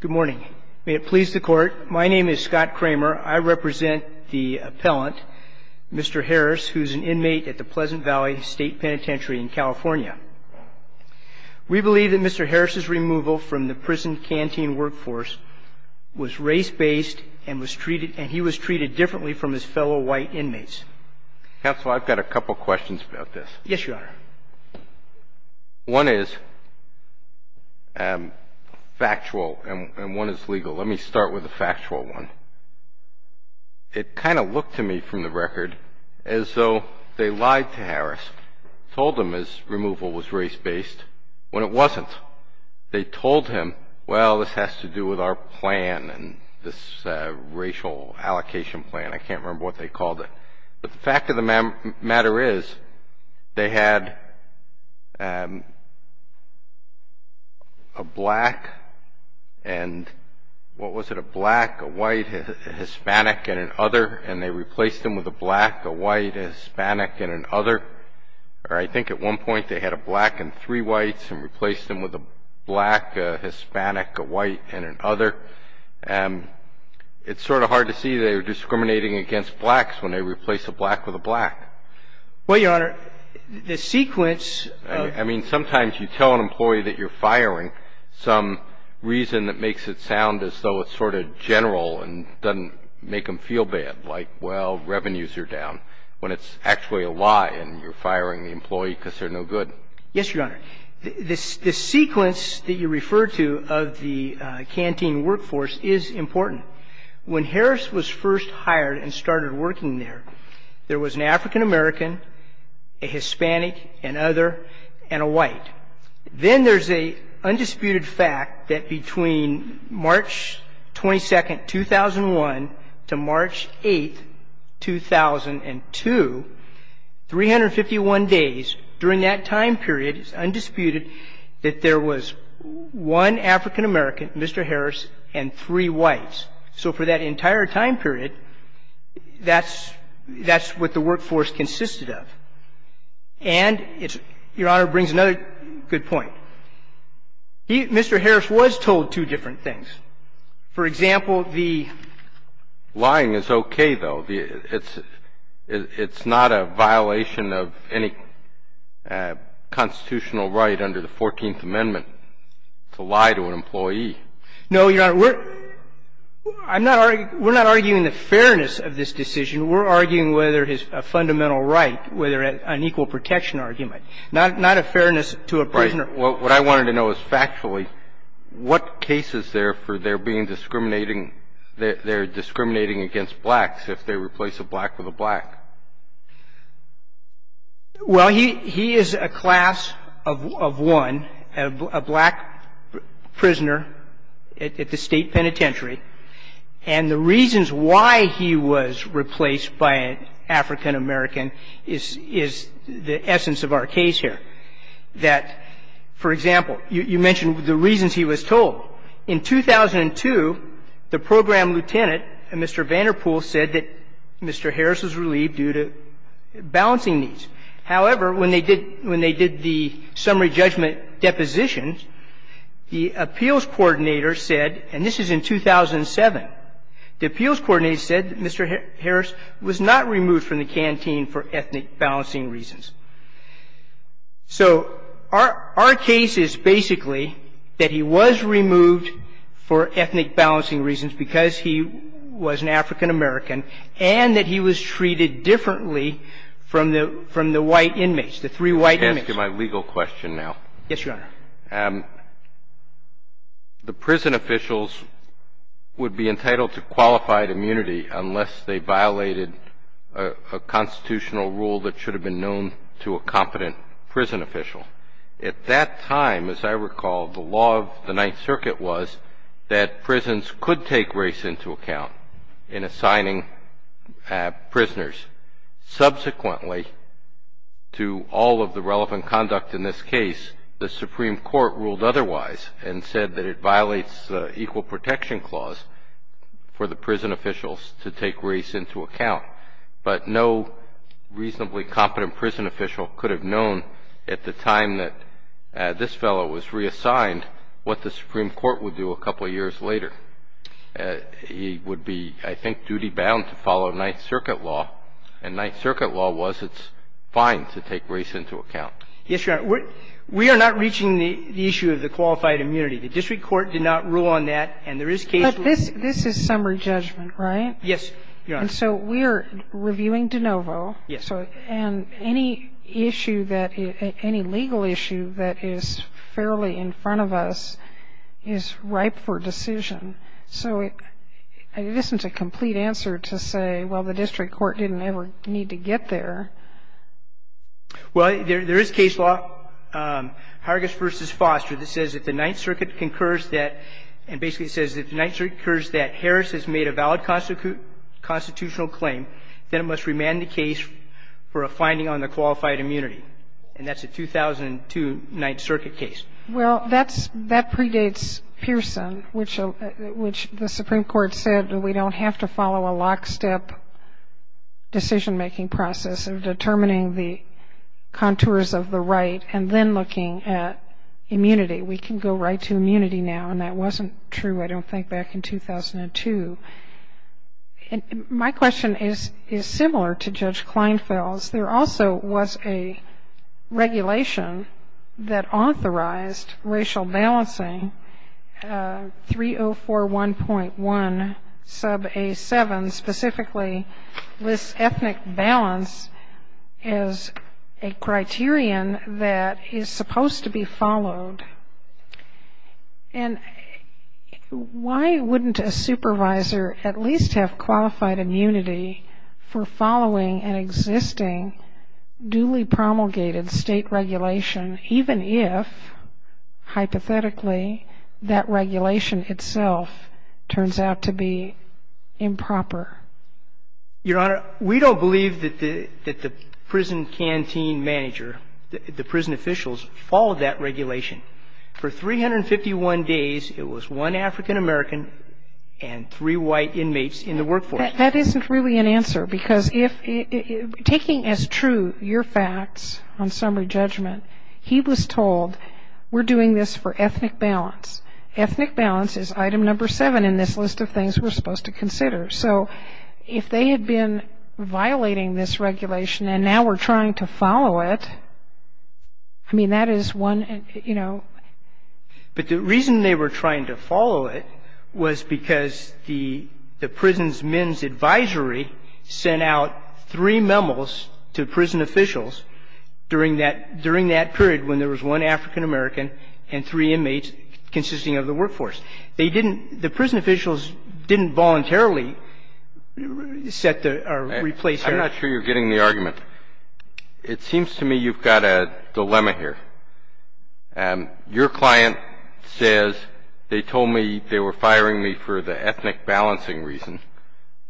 Good morning. May it please the court. My name is Scott Kramer. I represent the appellant, Mr. Harris, who is an inmate at the Pleasant Valley State Penitentiary in California. We believe that Mr. Harris' removal from the prison canteen workforce was race-based and he was treated differently from his fellow white inmates. Counsel, I've got a couple questions about this. Yes, Your Honor. One is factual and one is legal. Let me start with the factual one. It kind of looked to me from the record as though they lied to Harris, told him his removal was race-based, when it wasn't. They told him, well, this has to do with our plan and this racial allocation plan. I can't remember what they called it. But the fact of the matter is they had a black and, what was it, a black, a white, a Hispanic, and an other, and they replaced him with a black, a white, a Hispanic, and an other. Or I think at one point they had a black and three whites and replaced him with a black, a Hispanic, a white, and an other. It's sort of hard to see they were discriminating against blacks when they replaced a black with a black. Well, Your Honor, the sequence of ---- I mean, sometimes you tell an employee that you're firing some reason that makes it sound as though it's sort of general and doesn't make them feel bad, like, well, revenues are down, when it's actually a lie and you're firing the employee because they're no good. Yes, Your Honor. The sequence that you refer to of the canteen workforce is important. When Harris was first hired and started working there, there was an African American, a Hispanic, an other, and a white. Then there's an undisputed fact that between March 22, 2001, to March 8, 2002, 351 days during that time period, it's undisputed, that there was one African American, Mr. Harris, and three whites. So for that entire time period, that's what the workforce consisted of. And, Your Honor, it brings another good point. Mr. Harris was told two different things. For example, the ---- Lying is okay, though. It's not a violation of any constitutional right under the Fourteenth Amendment to lie to an employee. No, Your Honor. We're not arguing the fairness of this decision. We're arguing whether his fundamental right, whether an equal protection argument, not a fairness to a prisoner. Right. What I wanted to know is factually, what cases there for there being discriminating they're discriminating against blacks if they replace a black with a black? Well, he is a class of one, a black prisoner at the state penitentiary. And the reasons why he was replaced by an African American is the essence of our case here. That, for example, you mentioned the reasons he was told. In 2002, the program lieutenant, Mr. Vanderpool, said that Mr. Harris was relieved due to balancing needs. However, when they did the summary judgment depositions, the appeals coordinator said, and this is in 2007, the appeals coordinator said that Mr. Harris was not removed from the canteen for ethnic balancing reasons. So our case is basically that he was removed for ethnic balancing reasons because he was an African American and that he was treated differently from the white inmates, the three white inmates. I'm going to ask you my legal question now. Yes, Your Honor. The prison officials would be entitled to qualified immunity unless they violated a constitutional rule that should have been known to a competent prison official. At that time, as I recall, the law of the Ninth Circuit was that prisons could take race into account in assigning prisoners. Subsequently, to all of the relevant conduct in this case, the Supreme Court ruled otherwise and said that it violates the Equal Protection Clause for the prison officials to take race into account. But no reasonably competent prison official could have known at the time that this fellow was reassigned what the Supreme Court would do a couple of years later. He would be, I think, duty-bound to follow Ninth Circuit law, and Ninth Circuit law was it's fine to take race into account. Yes, Your Honor. We are not reaching the issue of the qualified immunity. The district court did not rule on that, and there is case rule. But this is summary judgment, right? Yes, Your Honor. And so we are reviewing de novo. Yes. And any issue that any legal issue that is fairly in front of us is ripe for decision. So it isn't a complete answer to say, well, the district court didn't ever need to get there. Well, there is case law, Hargis v. Foster, that says if the Ninth Circuit concurs that and basically it says if the Ninth Circuit concurs that Harris has made a valid constitutional claim, then it must remand the case for a finding on the qualified immunity. And that's a 2002 Ninth Circuit case. Well, that predates Pearson, which the Supreme Court said we don't have to follow a lockstep decision-making process of determining the contours of the right and then looking at immunity. We can go right to immunity now, and that wasn't true, I don't think, back in 2002. My question is similar to Judge Kleinfeld's. There also was a regulation that authorized racial balancing, 304.1.1 sub A7, specifically lists ethnic balance as a criterion that is supposed to be followed. And why wouldn't a supervisor at least have qualified immunity for following an existing duly promulgated State regulation, even if, hypothetically, that regulation itself turns out to be improper? Your Honor, we don't believe that the prison canteen manager, the prison officials, follow that regulation. For 351 days, it was one African-American and three white inmates in the workforce. That isn't really an answer, because taking as true your facts on summary judgment, he was told we're doing this for ethnic balance. Ethnic balance is item number seven in this list of things we're supposed to consider. So if they had been violating this regulation and now we're trying to follow it, I mean, that is one, you know. But the reason they were trying to follow it was because the prison's men's advisory sent out three memos to prison officials during that period when there was one African-American and three inmates consisting of the workforce. They didn't – the prison officials didn't voluntarily set the – or replace their – I'm not sure you're getting the argument. It seems to me you've got a dilemma here. Your client says they told me they were firing me for the ethnic balancing reason.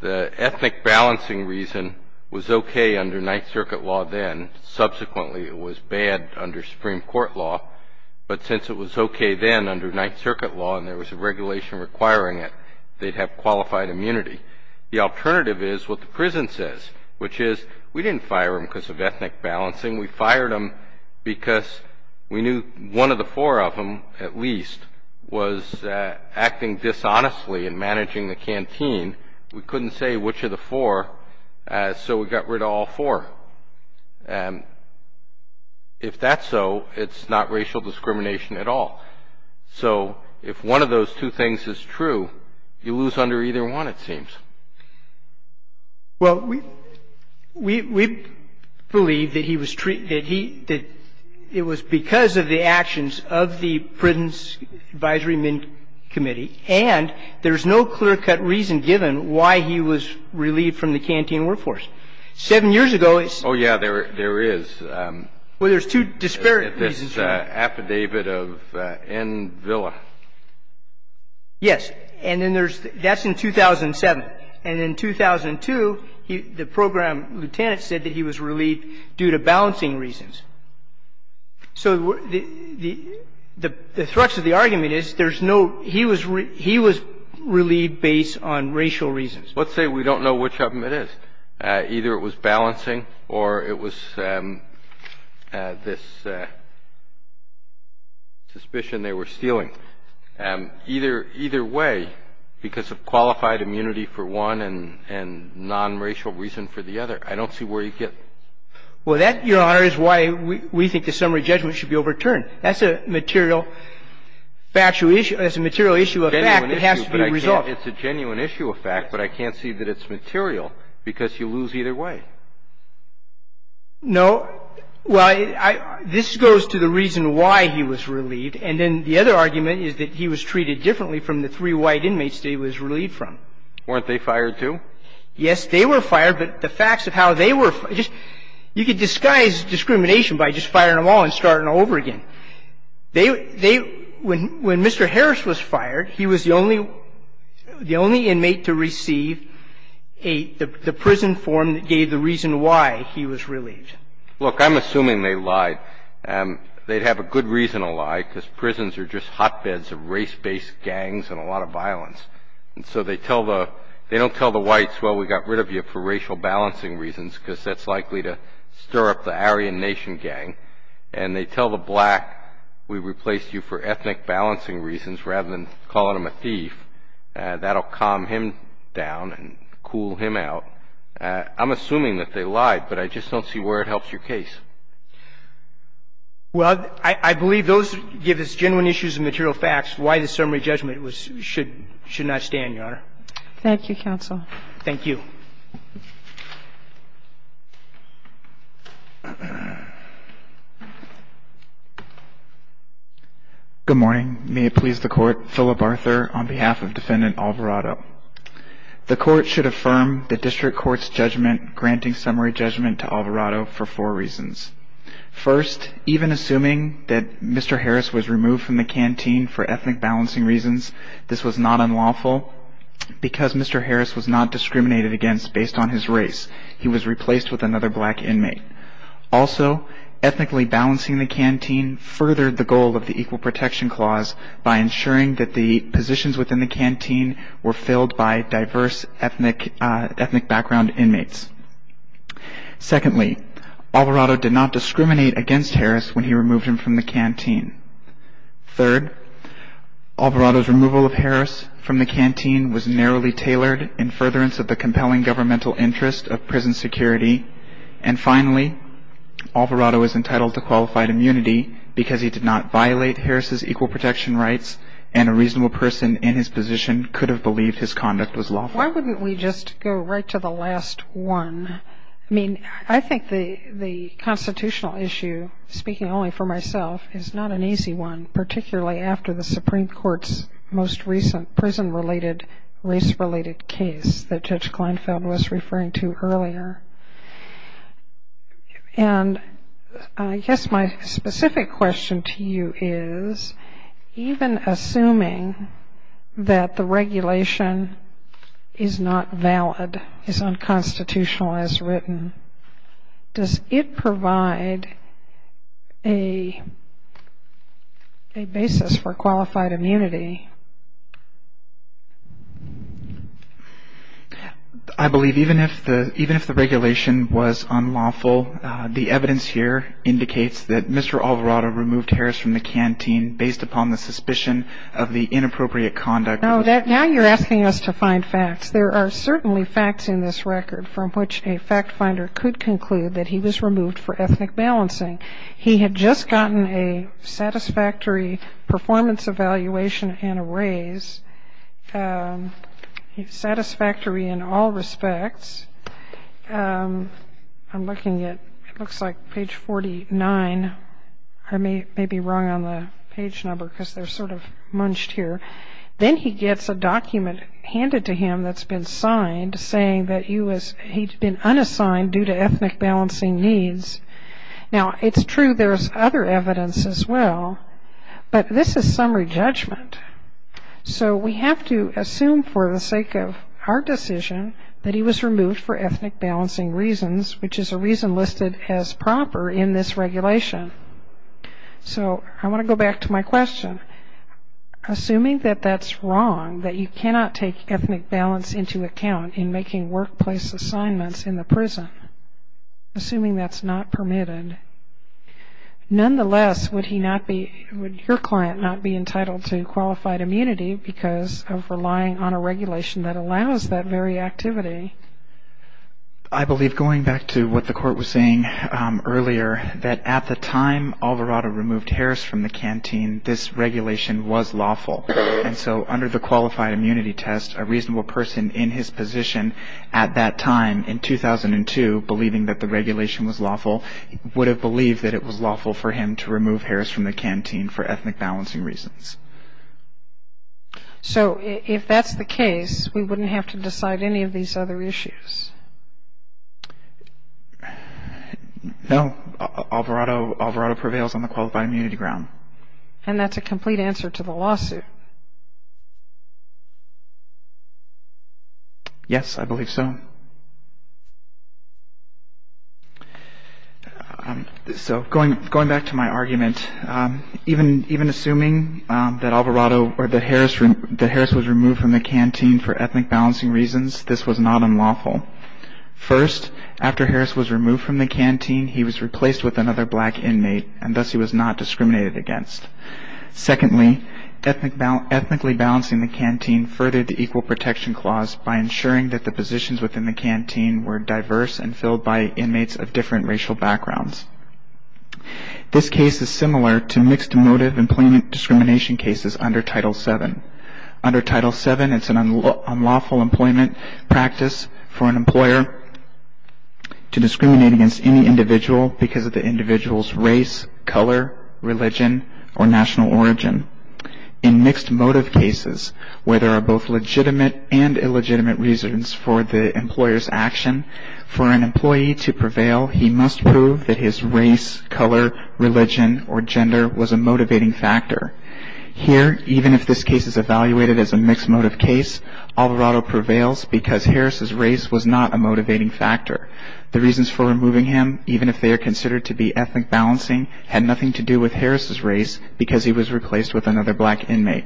The ethnic balancing reason was okay under Ninth Circuit law then. Subsequently, it was bad under Supreme Court law. But since it was okay then under Ninth Circuit law and there was a regulation requiring it, they'd have qualified immunity. The alternative is what the prison says, which is we didn't fire them because of ethnic balancing. We fired them because we knew one of the four of them at least was acting dishonestly and managing the canteen. We couldn't say which of the four, so we got rid of all four. If that's so, it's not racial discrimination at all. So if one of those two things is true, you lose under either one, it seems. Well, we believe that he was – that it was because of the actions of the prison's advisory committee and there's no clear-cut reason given why he was relieved from the canteen workforce. Seven years ago, it's – Oh, yeah, there is. Well, there's two disparate reasons. There's an affidavit of N. Villa. Yes. And then there's – that's in 2007. And in 2002, the program lieutenant said that he was relieved due to balancing reasons. So the thrux of the argument is there's no – he was relieved based on racial reasons. Let's say we don't know which of them it is. Either it was balancing or it was this suspicion they were stealing. Either way, because of qualified immunity for one and non-racial reason for the other, I don't see where you get – Well, that, Your Honor, is why we think the summary judgment should be overturned. That's a material factual issue – that's a material issue of fact that has to be resolved. It's a genuine issue of fact, but I can't see that it's material because you lose either way. No. Well, I – this goes to the reason why he was relieved. And then the other argument is that he was treated differently from the three white inmates that he was relieved from. Weren't they fired, too? Yes, they were fired, but the facts of how they were – just – you could disguise discrimination by just firing them all and starting over again. They – when Mr. Harris was fired, he was the only – the only inmate to receive a – the prison form that gave the reason why he was relieved. Look, I'm assuming they lied. They'd have a good reason to lie because prisons are just hotbeds of race-based gangs and a lot of violence. And so they tell the – they don't tell the whites, well, we got rid of you for racial balancing reasons because that's likely to stir up the Aryan Nation gang. And they tell the black, we replaced you for ethnic balancing reasons rather than calling them a thief. That'll calm him down and cool him out. I'm assuming that they lied, but I just don't see where it helps your case. Well, I believe those give us genuine issues of material facts. Why the summary judgment was – should not stand, Your Honor. Thank you, counsel. Thank you. Good morning. May it please the court, Philip Arthur on behalf of Defendant Alvarado. The court should affirm the district court's judgment granting summary judgment to Alvarado for four reasons. First, even assuming that Mr. Harris was removed from the canteen for ethnic balancing reasons, this was not unlawful. Because Mr. Harris was not discriminated against based on his race, he was replaced with another black inmate. Also, ethnically balancing the canteen furthered the goal of the Equal Protection Clause by ensuring that the positions within the canteen were filled by diverse ethnic background inmates. Secondly, Alvarado did not discriminate against Harris when he removed him from the canteen. Third, Alvarado's removal of Harris from the canteen was narrowly tailored in furtherance of the compelling governmental interest of prison security. And finally, Alvarado is entitled to qualified immunity because he did not violate Harris's equal protection rights and a reasonable person in his position could have believed his conduct was lawful. Why wouldn't we just go right to the last one? I mean, I think the constitutional issue, speaking only for myself, is not an easy one, particularly after the Supreme Court's most recent prison-related, race-related case that Judge Kleinfeld was referring to earlier. And I guess my specific question to you is, even assuming that the regulation is not valid, is unconstitutional as written, does it provide a basis for qualified immunity? I believe even if the regulation was unlawful, the evidence here indicates that Mr. Alvarado removed Harris from the canteen based upon the suspicion of the inappropriate conduct. Now you're asking us to find facts. There are certainly facts in this record from which a fact finder could conclude that he was removed for ethnic balancing. He had just gotten a satisfactory performance evaluation and a raise, satisfactory in all respects. I'm looking at, it looks like page 49. I may be wrong on the page number because they're sort of munched here. Then he gets a document handed to him that's been signed saying that he'd been unassigned due to ethnic balancing needs. Now, it's true there's other evidence as well, but this is summary judgment. So we have to assume for the sake of our decision that he was removed for ethnic balancing reasons, which is a reason listed as proper in this regulation. So I want to go back to my question. Assuming that that's wrong, that you cannot take ethnic balance into account in making workplace assignments in the prison, assuming that's not permitted, nonetheless, would he not be, would your client not be entitled to qualified immunity because of relying on a regulation that allows that very activity? I believe, going back to what the court was saying earlier, that at the time Alvarado removed Harris from the canteen, this regulation was lawful. And so under the qualified immunity test, a reasonable person in his position at that time in 2002, believing that the regulation was lawful, would have believed that it was lawful for him to remove Harris from the canteen for ethnic balancing reasons. So if that's the case, we wouldn't have to decide any of these other issues? No. Alvarado prevails on the qualified immunity ground. And that's a complete answer to the lawsuit? Yes, I believe so. So going back to my argument, even assuming that Alvarado or that Harris was removed from the canteen for ethnic balancing reasons, this was not unlawful. First, after Harris was removed from the canteen, he was replaced with another black inmate, and thus he was not discriminated against. Secondly, ethnically balancing the canteen furthered the equal protection clause by ensuring that the positions within the canteen were diverse and filled by inmates of different racial backgrounds. This case is similar to mixed motive employment discrimination cases under Title VII. Under Title VII, it's an unlawful employment practice for an employer to discriminate against any individual because of the individual's race, color, religion, or national origin. In mixed motive cases, where there are both legitimate and illegitimate reasons for the employer's action, for an employee to prevail, he must prove that his race, color, religion, or gender was a motivating factor. Here, even if this case is evaluated as a mixed motive case, Alvarado prevails because Harris' race was not a motivating factor. The reasons for removing him, even if they are considered to be ethnic balancing, had nothing to do with Harris' race because he was replaced with another black inmate.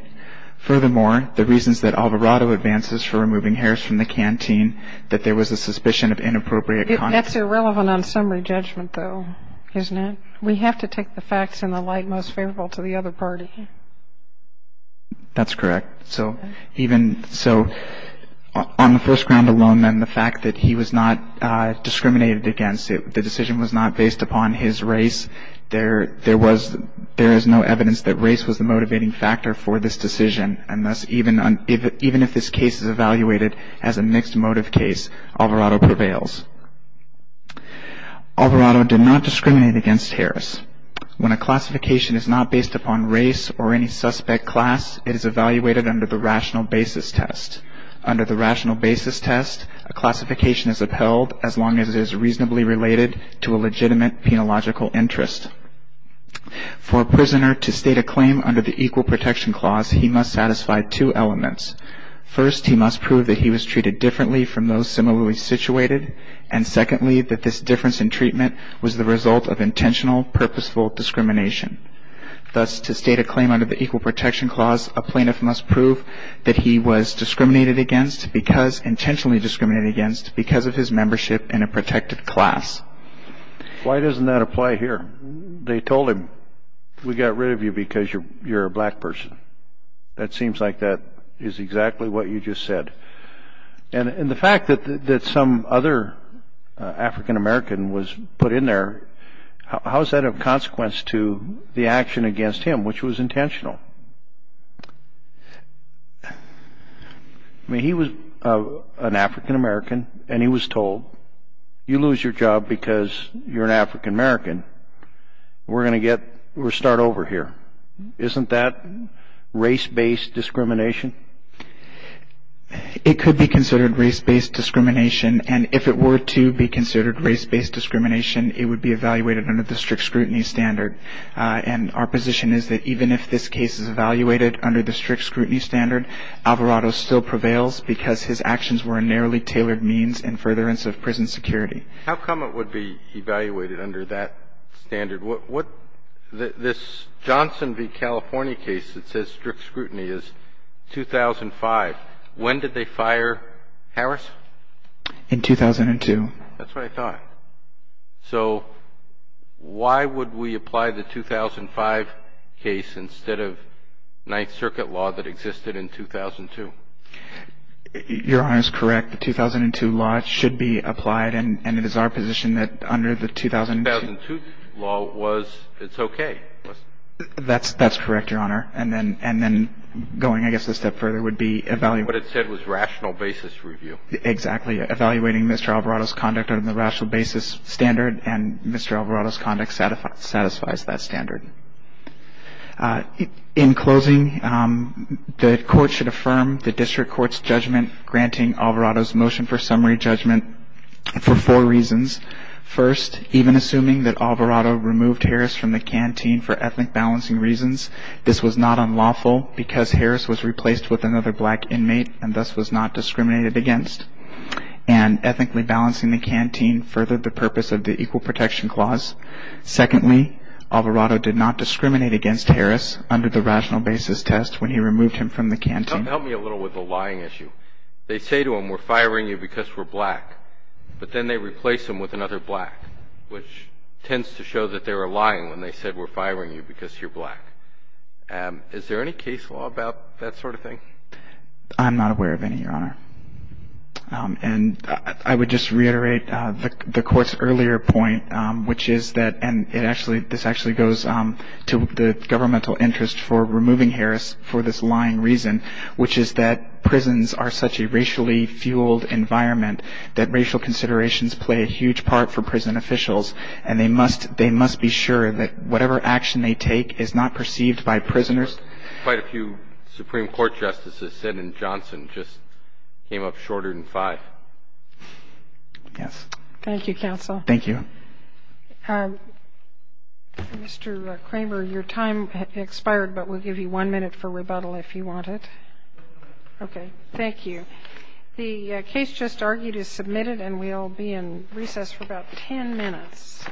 Furthermore, the reasons that Alvarado advances for removing Harris from the canteen, that there was a suspicion of inappropriate conduct. That's irrelevant on summary judgment, though, isn't it? We have to take the facts in the light most favorable to the other party. That's correct. So even so, on the first ground alone, then, the fact that he was not discriminated against, the decision was not based upon his race, there is no evidence that race was the motivating factor for this decision. And thus, even if this case is evaluated as a mixed motive case, Alvarado prevails. Alvarado did not discriminate against Harris. When a classification is not based upon race or any suspect class, it is evaluated under the rational basis test. Under the rational basis test, a classification is upheld as long as it is reasonably related to a legitimate penological interest. For a prisoner to state a claim under the Equal Protection Clause, he must satisfy two elements. First, he must prove that he was treated differently from those similarly situated, and secondly, that this difference in treatment was the result of intentional, purposeful discrimination. Thus, to state a claim under the Equal Protection Clause, a plaintiff must prove that he was discriminated against because, intentionally discriminated against because of his membership in a protected class. Why doesn't that apply here? They told him, we got rid of you because you're a black person. That seems like that is exactly what you just said. And the fact that some other African American was put in there, how is that of consequence to the action against him, which was intentional? I mean, he was an African American, and he was told, you lose your job because you're an African American. We're going to get, we're going to start over here. Isn't that race-based discrimination? It could be considered race-based discrimination, and if it were to be considered race-based discrimination, it would be evaluated under the strict scrutiny standard. And our position is that even if this case is evaluated under the strict scrutiny standard, Alvarado still prevails because his actions were a narrowly tailored means in furtherance of prison security. How come it would be evaluated under that standard? What this Johnson v. California case that says strict scrutiny is 2005. When did they fire Harris? In 2002. That's what I thought. So why would we apply the 2005 case instead of Ninth Circuit law that existed in 2002? Your Honor is correct. The 2002 law should be applied, and it is our position that under the 2002 law, it's okay. That's correct, Your Honor. And then going, I guess, a step further would be evaluating. What it said was rational basis review. Exactly. Evaluating Mr. Alvarado's conduct under the rational basis standard, and Mr. Alvarado's conduct satisfies that standard. In closing, the Court should affirm the District Court's judgment granting Alvarado's motion for summary judgment for four reasons. First, even assuming that Alvarado removed Harris from the canteen for ethnic balancing reasons, this was not unlawful because Harris was replaced with another black inmate and thus was not discriminated against. And ethnically balancing the canteen furthered the purpose of the Equal Protection Clause. Secondly, Alvarado did not discriminate against Harris under the rational basis test when he removed him from the canteen. Help me a little with the lying issue. They say to him, we're firing you because we're black, but then they replace him with another black, which tends to show that they were lying when they said, we're firing you because you're black. Is there any case law about that sort of thing? I'm not aware of any, Your Honor. And I would just reiterate the Court's earlier point, which is that, and it actually, this actually goes to the governmental interest for removing Harris for this lying reason, which is that prisons are such a racially fueled environment that racial considerations play a huge part for prison officials, and they must be sure that whatever action they take is not perceived by prisoners. Quite a few Supreme Court justices said, and Johnson just came up shorter than five. Yes. Thank you, counsel. Thank you. Mr. Kramer, your time expired, but we'll give you one minute for rebuttal if you want it. Okay. Thank you. The case just argued is submitted, and we'll be in recess for about 10 minutes.